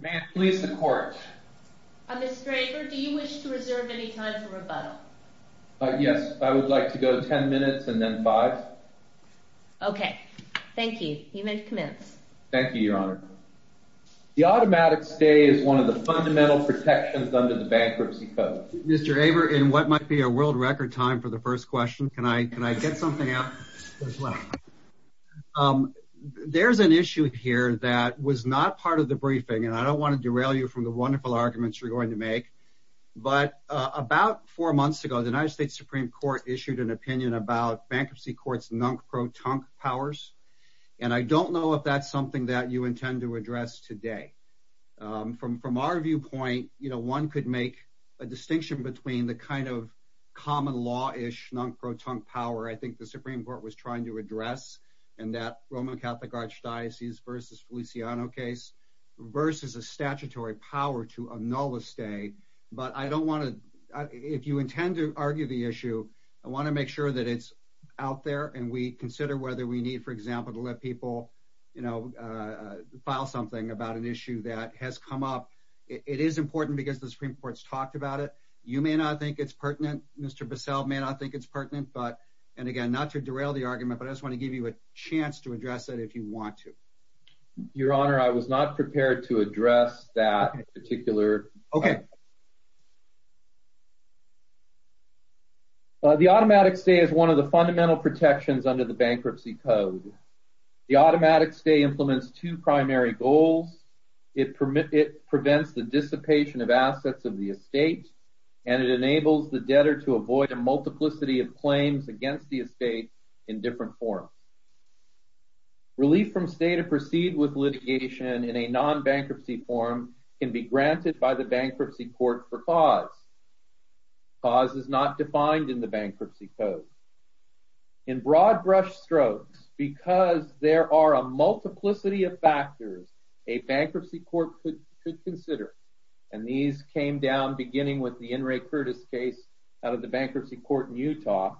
May I please the court? Mr. Aver, do you wish to reserve any time for rebuttal? Yes, I would like to go ten minutes and then five. Okay, thank you. You may commence. Thank you, Your Honor. The automatic stay is one of the fundamental protections under the bankruptcy code. Mr. Aver, in what might be a world-record time for the first question, can I get something out as well? There's an issue here that was not part of the briefing, and I don't want to derail you from the wonderful arguments you're going to make. But about four months ago, the United States Supreme Court issued an opinion about bankruptcy courts' non-pro-tunk powers, and I don't know if that's something that you intend to address today. From our viewpoint, one could make a distinction between the kind of common-law-ish non-pro-tunk power I think the Supreme Court was trying to address in that Roman Catholic Archdiocese v. Feliciano case versus a statutory power to annul a stay. But if you intend to argue the issue, I want to make sure that it's out there and we consider whether we need, for example, to let people file something about an issue that has come up. It is important because the Supreme Court's talked about it. You may not think it's pertinent. Mr. Bissell may not think it's pertinent. And again, not to derail the argument, but I just want to give you a chance to address it if you want to. Your Honor, I was not prepared to address that particular point. Okay. The automatic stay is one of the fundamental protections under the Bankruptcy Code. The automatic stay implements two primary goals. It prevents the dissipation of assets of the estate, and it enables the debtor to avoid a multiplicity of claims against the estate in different forms. Relief from stay to proceed with litigation in a non-bankruptcy form can be granted by the Bankruptcy Court for cause. Cause is not defined in the Bankruptcy Code. In broad brush strokes, because there are a multiplicity of factors a Bankruptcy Court could consider, and these came down beginning with the In re Curtis case out of the Bankruptcy Court in Utah,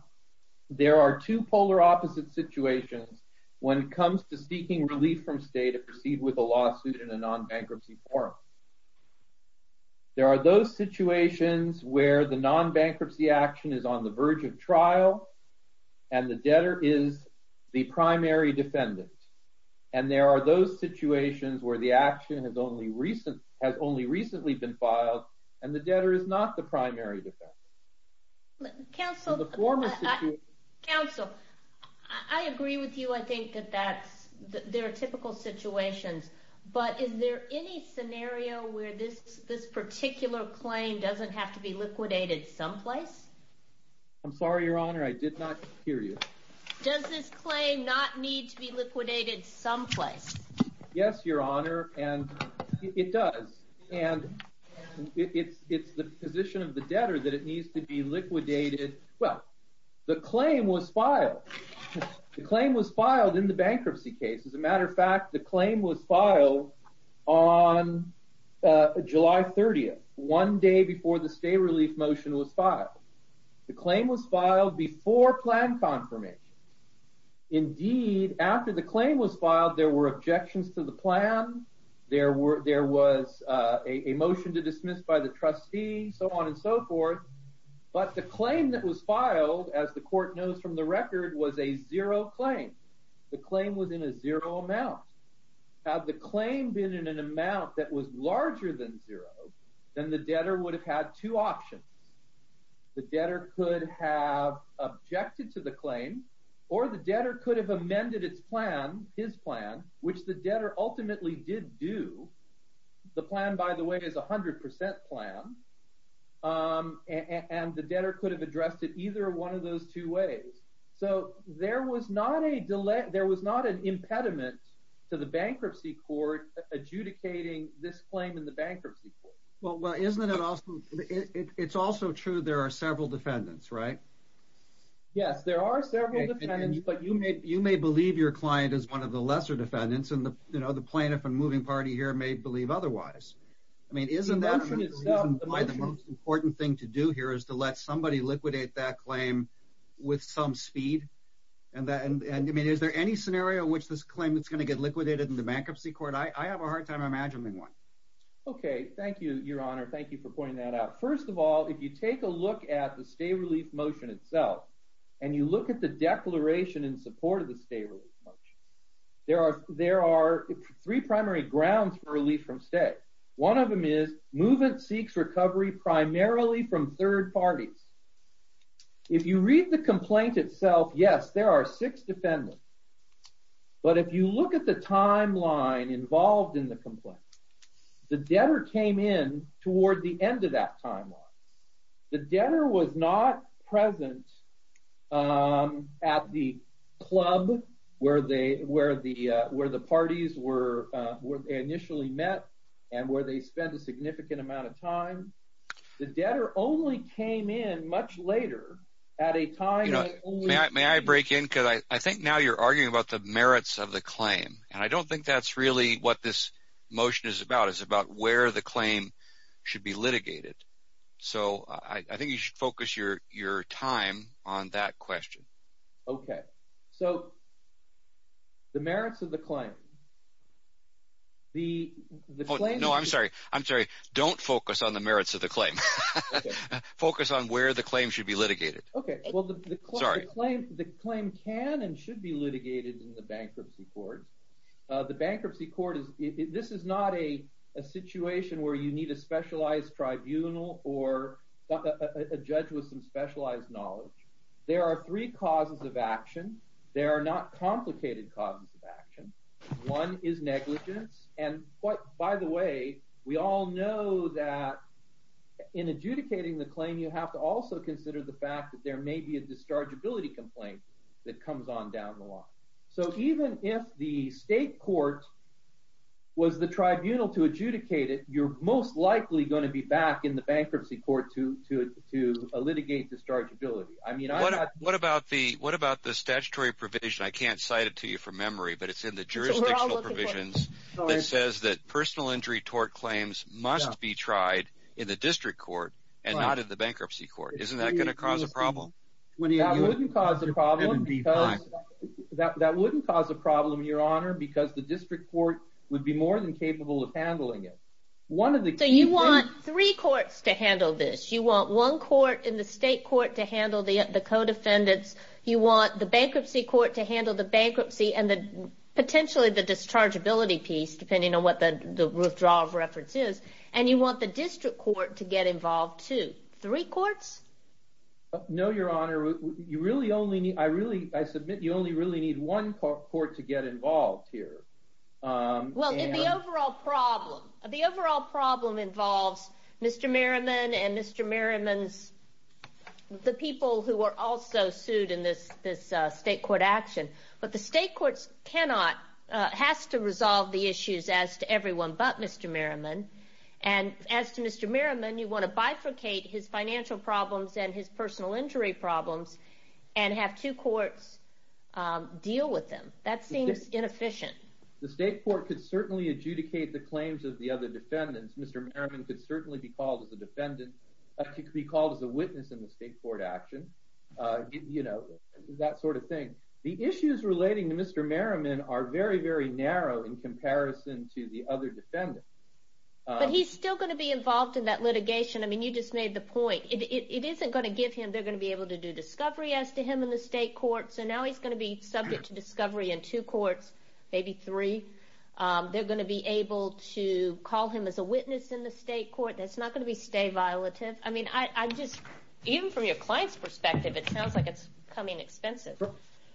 there are two polar opposite situations when it comes to seeking relief from stay to proceed with a lawsuit in a non-bankruptcy form. There are those situations where the non-bankruptcy action is on the verge of trial, and the debtor is the primary defendant. And there are those situations where the action has only recently been filed, and the debtor is not the primary defendant. Counsel, I agree with you. I think that there are typical situations, but is there any scenario where this particular claim doesn't have to be liquidated someplace? I'm sorry, Your Honor. I did not hear you. Does this claim not need to be liquidated someplace? Yes, Your Honor, and it does. And it's the position of the debtor that it needs to be liquidated. Well, the claim was filed. The claim was filed in the bankruptcy case. As a matter of fact, the claim was filed on July 30th, one day before the stay relief motion was filed. The claim was filed before plan confirmation. Indeed, after the claim was filed, there were objections to the plan. There was a motion to dismiss by the trustee, so on and so forth. But the claim that was filed, as the court knows from the record, was a zero claim. The claim was in a zero amount. Had the claim been in an amount that was larger than zero, then the debtor would have had two options. The debtor could have objected to the claim, or the debtor could have amended his plan, which the debtor ultimately did do. The plan, by the way, is a 100% plan, and the debtor could have addressed it either one of those two ways. So there was not an impediment to the bankruptcy court adjudicating this claim in the bankruptcy court. Well, isn't it also true there are several defendants, right? Yes, there are several defendants, but you may believe your client is one of the lesser defendants, and the plaintiff and moving party here may believe otherwise. Isn't that the reason why the most important thing to do here is to let somebody liquidate that claim with some speed? Is there any scenario in which this claim is going to get liquidated in the bankruptcy court? I have a hard time imagining one. Okay, thank you, Your Honor. Thank you for pointing that out. First of all, if you take a look at the stay-relief motion itself, and you look at the declaration in support of the stay-relief motion, there are three primary grounds for relief from stay. One of them is movement seeks recovery primarily from third parties. If you read the complaint itself, yes, there are six defendants, but if you look at the timeline involved in the complaint, the debtor came in toward the end of that timeline. The debtor was not present at the club where the parties were initially met and where they spent a significant amount of time. The debtor only came in much later at a time that only… So I think you should focus your time on that question. Okay, so the merits of the claim. The claim… Oh, no, I'm sorry. I'm sorry. Don't focus on the merits of the claim. Focus on where the claim should be litigated. Okay, well, the claim can and should be litigated in the bankruptcy court. The bankruptcy court is… this is not a situation where you need a specialized tribunal or a judge with some specialized knowledge. There are three causes of action. They are not complicated causes of action. One is negligence. And by the way, we all know that in adjudicating the claim, you have to also consider the fact that there may be a dischargeability complaint that comes on down the line. So even if the state court was the tribunal to adjudicate it, you're most likely going to be back in the bankruptcy court to litigate dischargeability. I mean, I… What about the statutory provision? I can't cite it to you from memory, but it's in the jurisdictional provisions that says that personal injury tort claims must be tried in the district court and not in the bankruptcy court. Isn't that going to cause a problem? That wouldn't cause a problem, Your Honor, because the district court would be more than capable of handling it. So you want three courts to handle this. You want one court in the state court to handle the co-defendants. You want the bankruptcy court to handle the bankruptcy and potentially the dischargeability piece, depending on what the withdrawal of reference is. And you want the district court to get involved too. Three courts? No, Your Honor. I submit you only really need one court to get involved here. Well, the overall problem involves Mr. Merriman and Mr. Merriman's…the people who were also sued in this state court action. But the state court cannot…has to resolve the issues as to everyone but Mr. Merriman. And as to Mr. Merriman, you want to bifurcate his financial problems and his personal injury problems and have two courts deal with them. That seems inefficient. The state court could certainly adjudicate the claims of the other defendants. Mr. Merriman could certainly be called as a witness in the state court action. You know, that sort of thing. The issues relating to Mr. Merriman are very, very narrow in comparison to the other defendants. But he's still going to be involved in that litigation. I mean, you just made the point. It isn't going to give him…they're going to be able to do discovery as to him in the state court. So now he's going to be subject to discovery in two courts, maybe three. They're going to be able to call him as a witness in the state court. That's not going to be stay violative. I mean, I just…even from your client's perspective, it sounds like it's becoming expensive.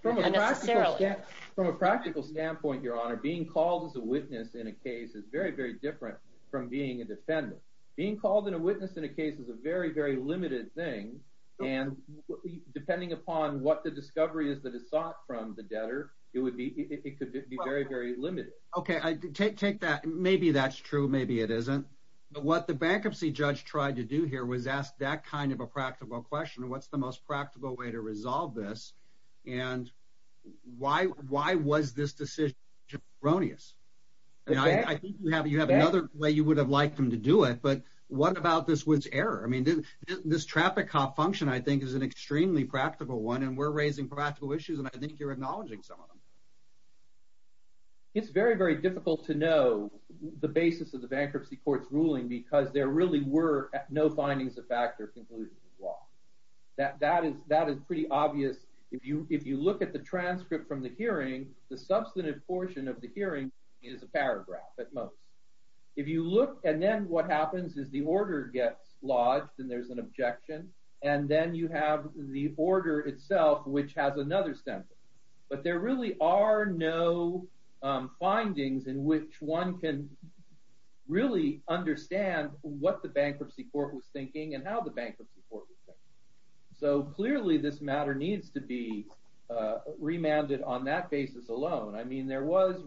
From a practical standpoint, Your Honor, being called as a witness in a case is very, very different from being a defendant. Being called a witness in a case is a very, very limited thing. And depending upon what the discovery is that is sought from the debtor, it could be very, very limited. Okay. Take that. Maybe that's true. Maybe it isn't. But what the bankruptcy judge tried to do here was ask that kind of a practical question. What's the most practical way to resolve this? And why was this decision erroneous? I think you have another way you would have liked him to do it, but what about this Woods error? I mean, this traffic cop function, I think, is an extremely practical one, and we're raising practical issues, and I think you're acknowledging some of them. It's very, very difficult to know the basis of the bankruptcy court's ruling because there really were no findings of fact or conclusions of law. That is pretty obvious. If you look at the transcript from the hearing, the substantive portion of the hearing is a paragraph at most. If you look, and then what happens is the order gets lodged, and there's an objection, and then you have the order itself, which has another sentence. But there really are no findings in which one can really understand what the bankruptcy court was thinking and how the bankruptcy court was thinking. So clearly, this matter needs to be remanded on that basis alone. I mean, there was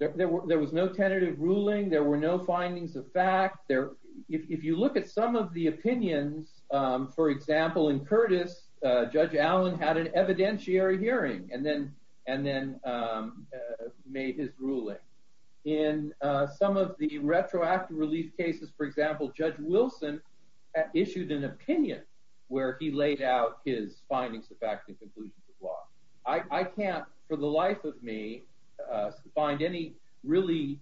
no tentative ruling. There were no findings of fact. If you look at some of the opinions, for example, in Curtis, Judge Allen had an evidentiary hearing and then made his ruling. In some of the retroactive relief cases, for example, Judge Wilson issued an opinion where he laid out his findings of fact and conclusions of law. I can't, for the life of me, find any really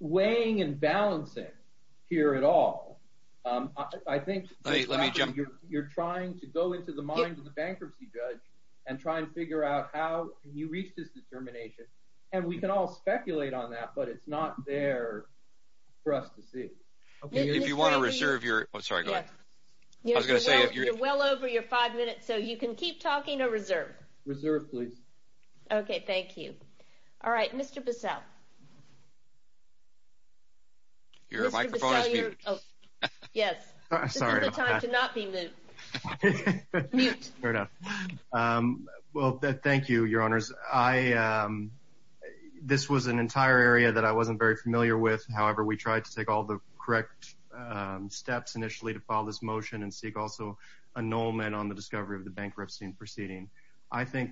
weighing and balancing here at all. I think you're trying to go into the mind of the bankruptcy judge and try and figure out how you reach this determination, and we can all speculate on that, but it's not there for us to see. If you want to reserve your—oh, sorry, go ahead. I was going to say if you're— I think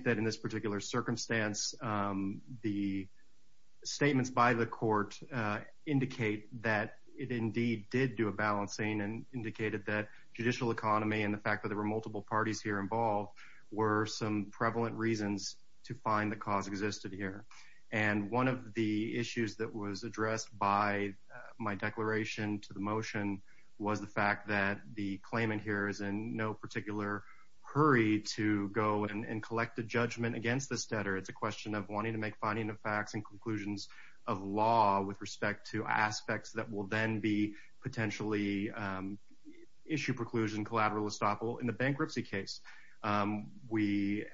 that in this particular circumstance, the statements by the court indicate that it indeed did do a balancing and indicated that judicial economy and the fact that there were multiple parties here involved were some prevalent reasons to find the cause existed here. And one of the issues that was addressed by my declaration to the motion was the fact that the claimant here is in no particular hurry to go and collect a judgment against this debtor. It's a question of wanting to make finding of facts and conclusions of law with respect to aspects that will then be potentially issue preclusion collateral estoppel in the bankruptcy case. We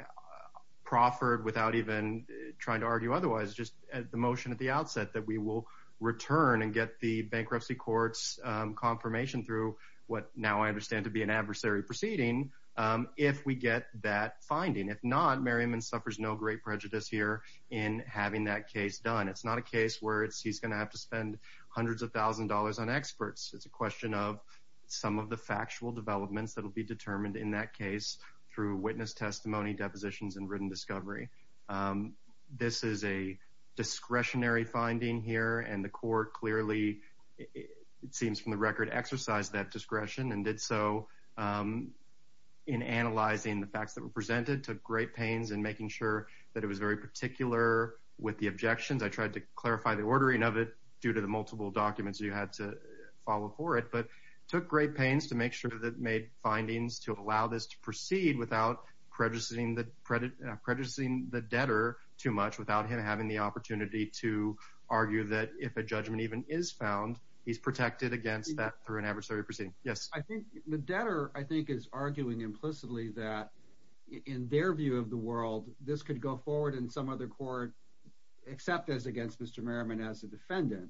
proffered without even trying to argue otherwise, just the motion at the outset that we will return and get the bankruptcy court's confirmation through what now I understand to be an adversary proceeding if we get that finding. If not, Merriman suffers no great prejudice here in having that case done. It's not a case where he's going to have to spend hundreds of thousands of dollars on experts. It's a question of some of the factual developments that will be determined in that case through witness testimony, depositions, and written discovery. This is a discretionary finding here, and the court clearly, it seems from the record, exercised that discretion and did so in analyzing the facts that were presented, took great pains in making sure that it was very particular with the objections. I tried to clarify the ordering of it due to the multiple documents you had to follow for it, but took great pains to make sure that it made findings to allow this to proceed without prejudicing the debtor too much, without him having the opportunity to argue that if a judgment even is found, he's protected against that through an adversary proceeding. Yes? The debtor, I think, is arguing implicitly that in their view of the world, this could go forward in some other court except as against Mr. Merriman as a defendant,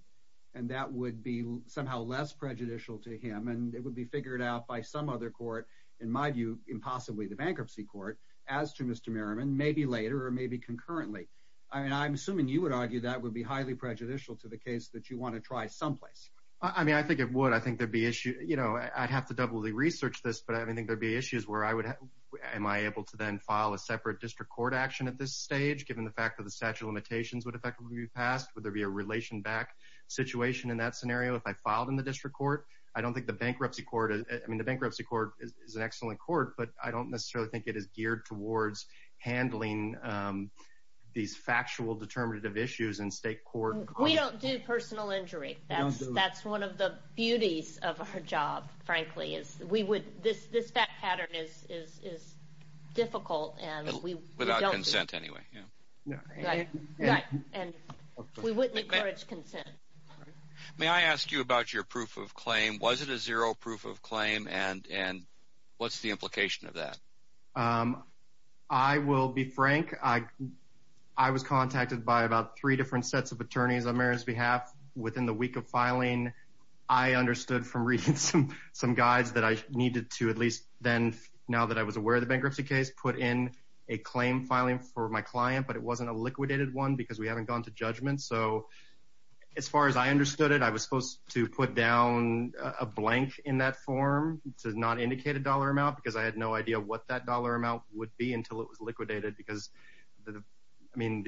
and that would be somehow less prejudicial to him, and it would be figured out by some other court, in my view, impossibly the bankruptcy court, as to Mr. Merriman, maybe later or maybe concurrently. I'm assuming you would argue that would be highly prejudicial to the case that you want to try someplace. I mean, I think it would. I think there'd be issue, you know, I'd have to doubly research this, but I think there'd be issues where I would, am I able to then file a separate district court action at this stage, given the fact that the statute of limitations would effectively be passed? Would there be a relation back situation in that scenario if I filed in the district court? I don't think the bankruptcy court, I mean, the bankruptcy court is an excellent court, but I don't necessarily think it is geared towards handling these factual determinative issues in state court. We don't do personal injury. That's one of the beauties of our job, frankly, is we would, this fact pattern is difficult, and we don't do it. Without consent anyway, yeah. Right, right, and we wouldn't encourage consent. May I ask you about your proof of claim? Was it a zero proof of claim, and what's the implication of that? I will be frank. I was contacted by about three different sets of attorneys on Mary's behalf within the week of filing. I understood from reading some guides that I needed to at least then, now that I was aware of the bankruptcy case, put in a claim filing for my client, but it wasn't a liquidated one because we haven't gone to judgment. As far as I understood it, I was supposed to put down a blank in that form to not indicate a dollar amount because I had no idea what that dollar amount would be until it was liquidated because the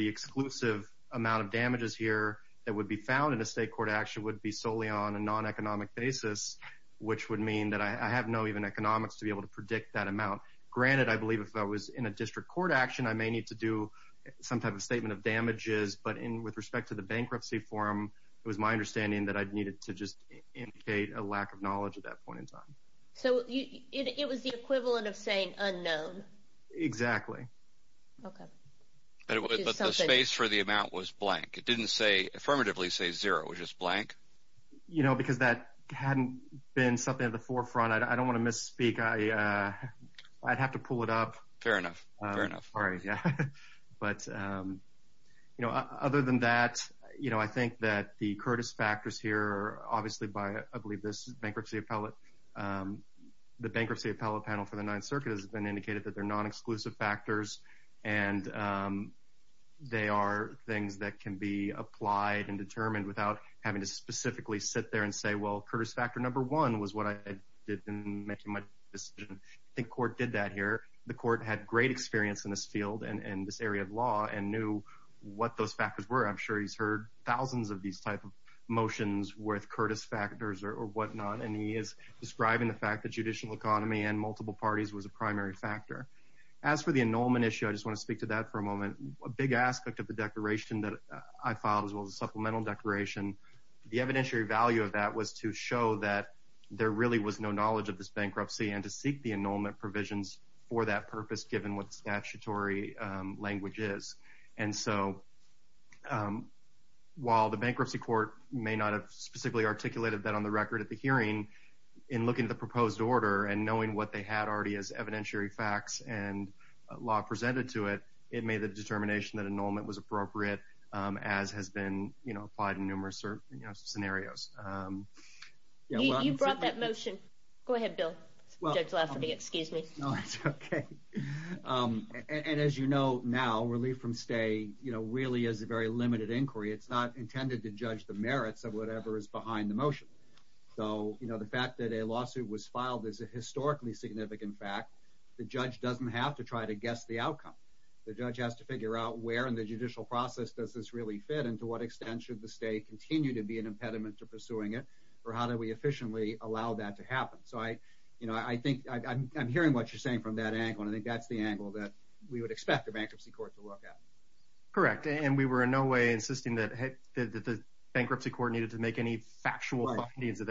exclusive amount of damages here that would be found in a state court action would be solely on a non-economic basis, which would mean that I have no even economics to be able to predict that amount. Granted, I believe if I was in a district court action, I may need to do some type of statement of damages, but with respect to the bankruptcy form, it was my understanding that I needed to just indicate a lack of knowledge at that point in time. So, it was the equivalent of saying unknown. Exactly. Okay. But the space for the amount was blank. It didn't affirmatively say zero. It was just blank. Because that hadn't been something at the forefront, I don't want to misspeak. I'd have to pull it up. Fair enough. Other than that, I think that the Curtis factors here are obviously by, I believe, this bankruptcy appellate. The bankruptcy appellate panel for the Ninth Circuit has been indicated that they're non-exclusive factors, and they are things that can be applied and determined without having to specifically sit there and say, well, Curtis factor number one was what I did in making my decision. I think court did that here. The court had great experience in this field and in this area of law and knew what those factors were. I'm sure he's heard thousands of these type of motions worth Curtis factors or whatnot, and he is describing the fact that judicial economy and multiple parties was a primary factor. As for the annulment issue, I just want to speak to that for a moment. A big aspect of the declaration that I filed as well as a supplemental declaration, the evidentiary value of that was to show that there really was no knowledge of this bankruptcy and to seek the annulment provisions for that purpose, given what statutory language is. While the bankruptcy court may not have specifically articulated that on the record at the hearing, in looking at the proposed order and knowing what they had already as evidentiary facts and law presented to it, it made the determination that annulment was appropriate, as has been applied in numerous scenarios. You brought that motion. Go ahead, Bill. As you know now, relief from stay really is a very limited inquiry. It's not intended to judge the merits of whatever is behind the motion. The fact that a lawsuit was filed is a historically significant fact. The judge doesn't have to try to guess the outcome. The judge has to figure out where in the judicial process does this really fit, and to what extent should the state continue to be an impediment to pursuing it, or how do we efficiently allow that to happen? I'm hearing what you're saying from that angle, and I think that's the angle that we would expect a bankruptcy court to look at. Correct, and we were in no way insisting that the bankruptcy court needed to make any factual findings at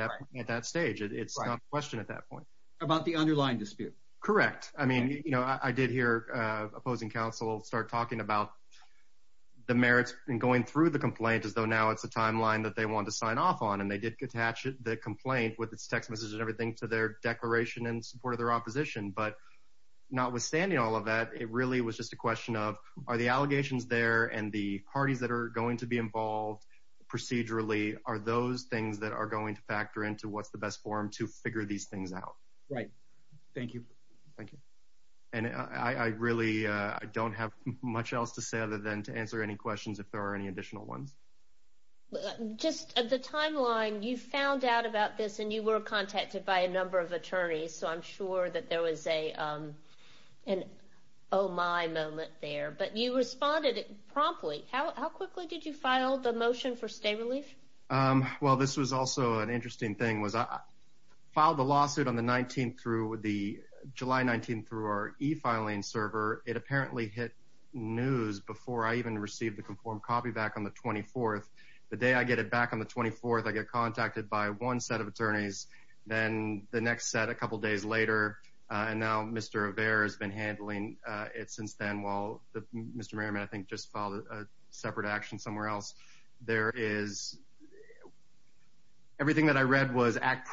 that stage. It's not a question at that point. About the underlying dispute. Correct. I mean, you know, I did hear opposing counsel start talking about the merits and going through the complaint as though now it's a timeline that they want to sign off on, and they did attach the complaint with its text message and everything to their declaration in support of their opposition. But notwithstanding all of that, it really was just a question of are the allegations there and the parties that are going to be involved procedurally are those things that are going to factor into what's the best form to figure these things out. Right. Thank you. Thank you. And I really don't have much else to say other than to answer any questions if there are any additional ones. Just at the timeline, you found out about this and you were contacted by a number of attorneys, so I'm sure that there was an oh my moment there, but you responded promptly. How quickly did you file the motion for state relief? Well, this was also an interesting thing was I filed a lawsuit on the 19th through the July 19th through our e-filing server. It apparently hit news before I even received the conformed copy back on the 24th. The day I get it back on the 24th, I get contacted by one set of attorneys. Then the next set a couple of days later, and now Mr. Obear has been handling it since then, while Mr. Merriman, I think, just filed a separate action somewhere else. Everything that I read was act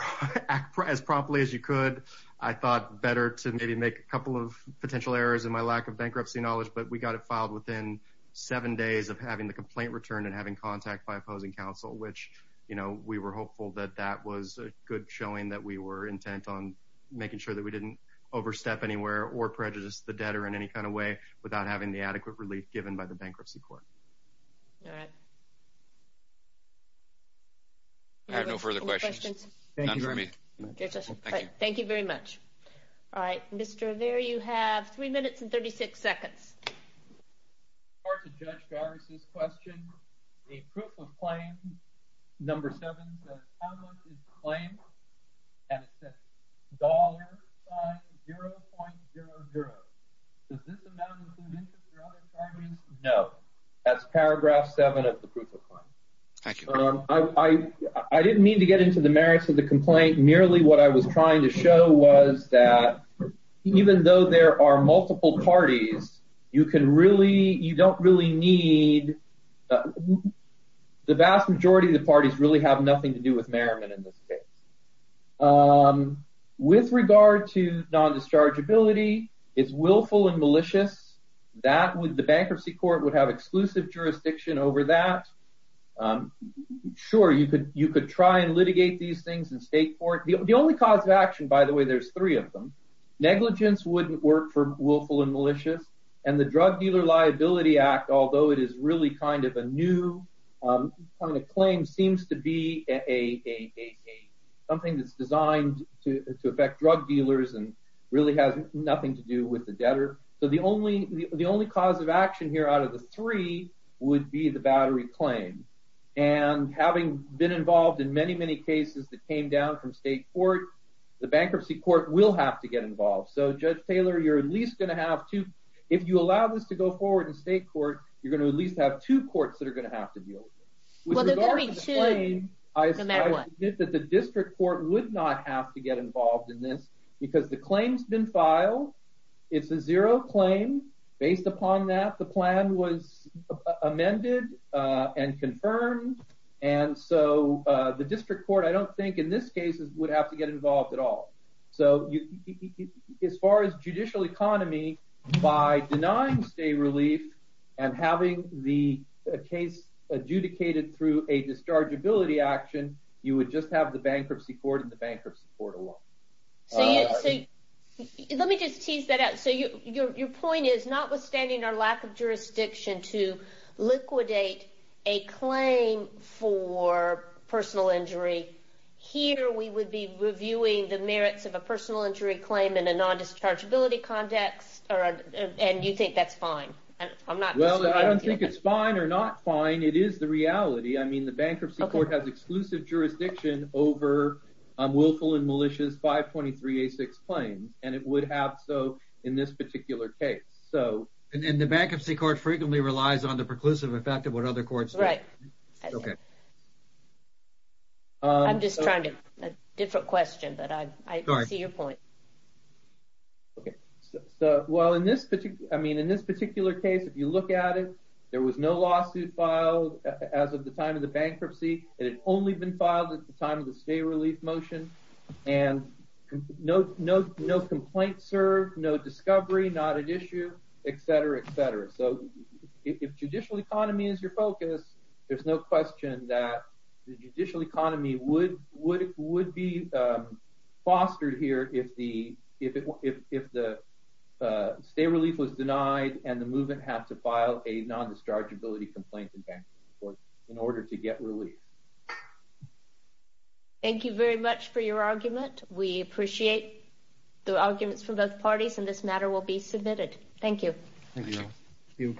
as promptly as you could. I thought better to maybe make a couple of potential errors in my lack of bankruptcy knowledge, but we got it filed within seven days of having the complaint returned and having contact by opposing counsel, which, you know, we were hopeful that that was a good showing that we were intent on making sure that we didn't overstep anywhere or prejudice the debtor in any kind of way without having the adequate relief given by the bankruptcy court. All right. I have no further questions. None for me. Thank you very much. All right, Mr. Obear, you have three minutes and 36 seconds. Judge Gargis' question. The proof of claim, number seven, says how much is the claim, and it says $0.00. Does this amount include interest or other charges? No. That's paragraph seven of the proof of claim. Thank you. I didn't mean to get into the merits of the complaint. Merely what I was trying to show was that even though there are multiple parties, you can really – you don't really need – the vast majority of the parties really have nothing to do with merriment in this case. With regard to non-dischargeability, it's willful and malicious. That would – the bankruptcy court would have exclusive jurisdiction over that. Sure, you could try and litigate these things in state court. The only cause of action, by the way, there's three of them. Negligence wouldn't work for willful and malicious. And the Drug Dealer Liability Act, although it is really kind of a new kind of claim, seems to be a – something that's designed to affect drug dealers and really has nothing to do with the debtor. So the only cause of action here out of the three would be the battery claim. And having been involved in many, many cases that came down from state court, the bankruptcy court will have to get involved. So, Judge Taylor, you're at least going to have to – if you allow this to go forward in state court, you're going to at least have two courts that are going to have to deal with it. With regard to the claim, I admit that the district court would not have to get involved in this because the claim's been filed. It's a zero claim. Based upon that, the plan was amended and confirmed. And so the district court, I don't think, in this case, would have to get involved at all. So as far as judicial economy, by denying state relief and having the case adjudicated through a dischargeability action, you would just have the bankruptcy court and the bankruptcy court alone. So let me just tease that out. So your point is, notwithstanding our lack of jurisdiction to liquidate a claim for personal injury, here we would be reviewing the merits of a personal injury claim in a non-dischargeability context, and you think that's fine. I'm not disagreeing with you. Well, I don't think it's fine or not fine. It is the reality. I mean, the bankruptcy court has exclusive jurisdiction over willful and malicious 523A6 claims, and it would have so in this particular case. And the bankruptcy court frequently relies on the preclusive effect of what other courts do. Right. OK. I'm just trying to—a different question, but I see your point. OK. So while in this particular—I mean, in this particular case, if you look at it, there was no lawsuit filed as of the time of the bankruptcy, and it had only been filed at the time of the state relief motion, and no complaints served, no discovery, not at issue, et cetera, et cetera. So if judicial economy is your focus, there's no question that the judicial economy would be fostered here if the state relief was denied and the movement had to file a non-dischargeability complaint in order to get relief. Thank you very much for your argument. We appreciate the arguments from both parties, and this matter will be submitted. Thank you. Thank you. Thank you.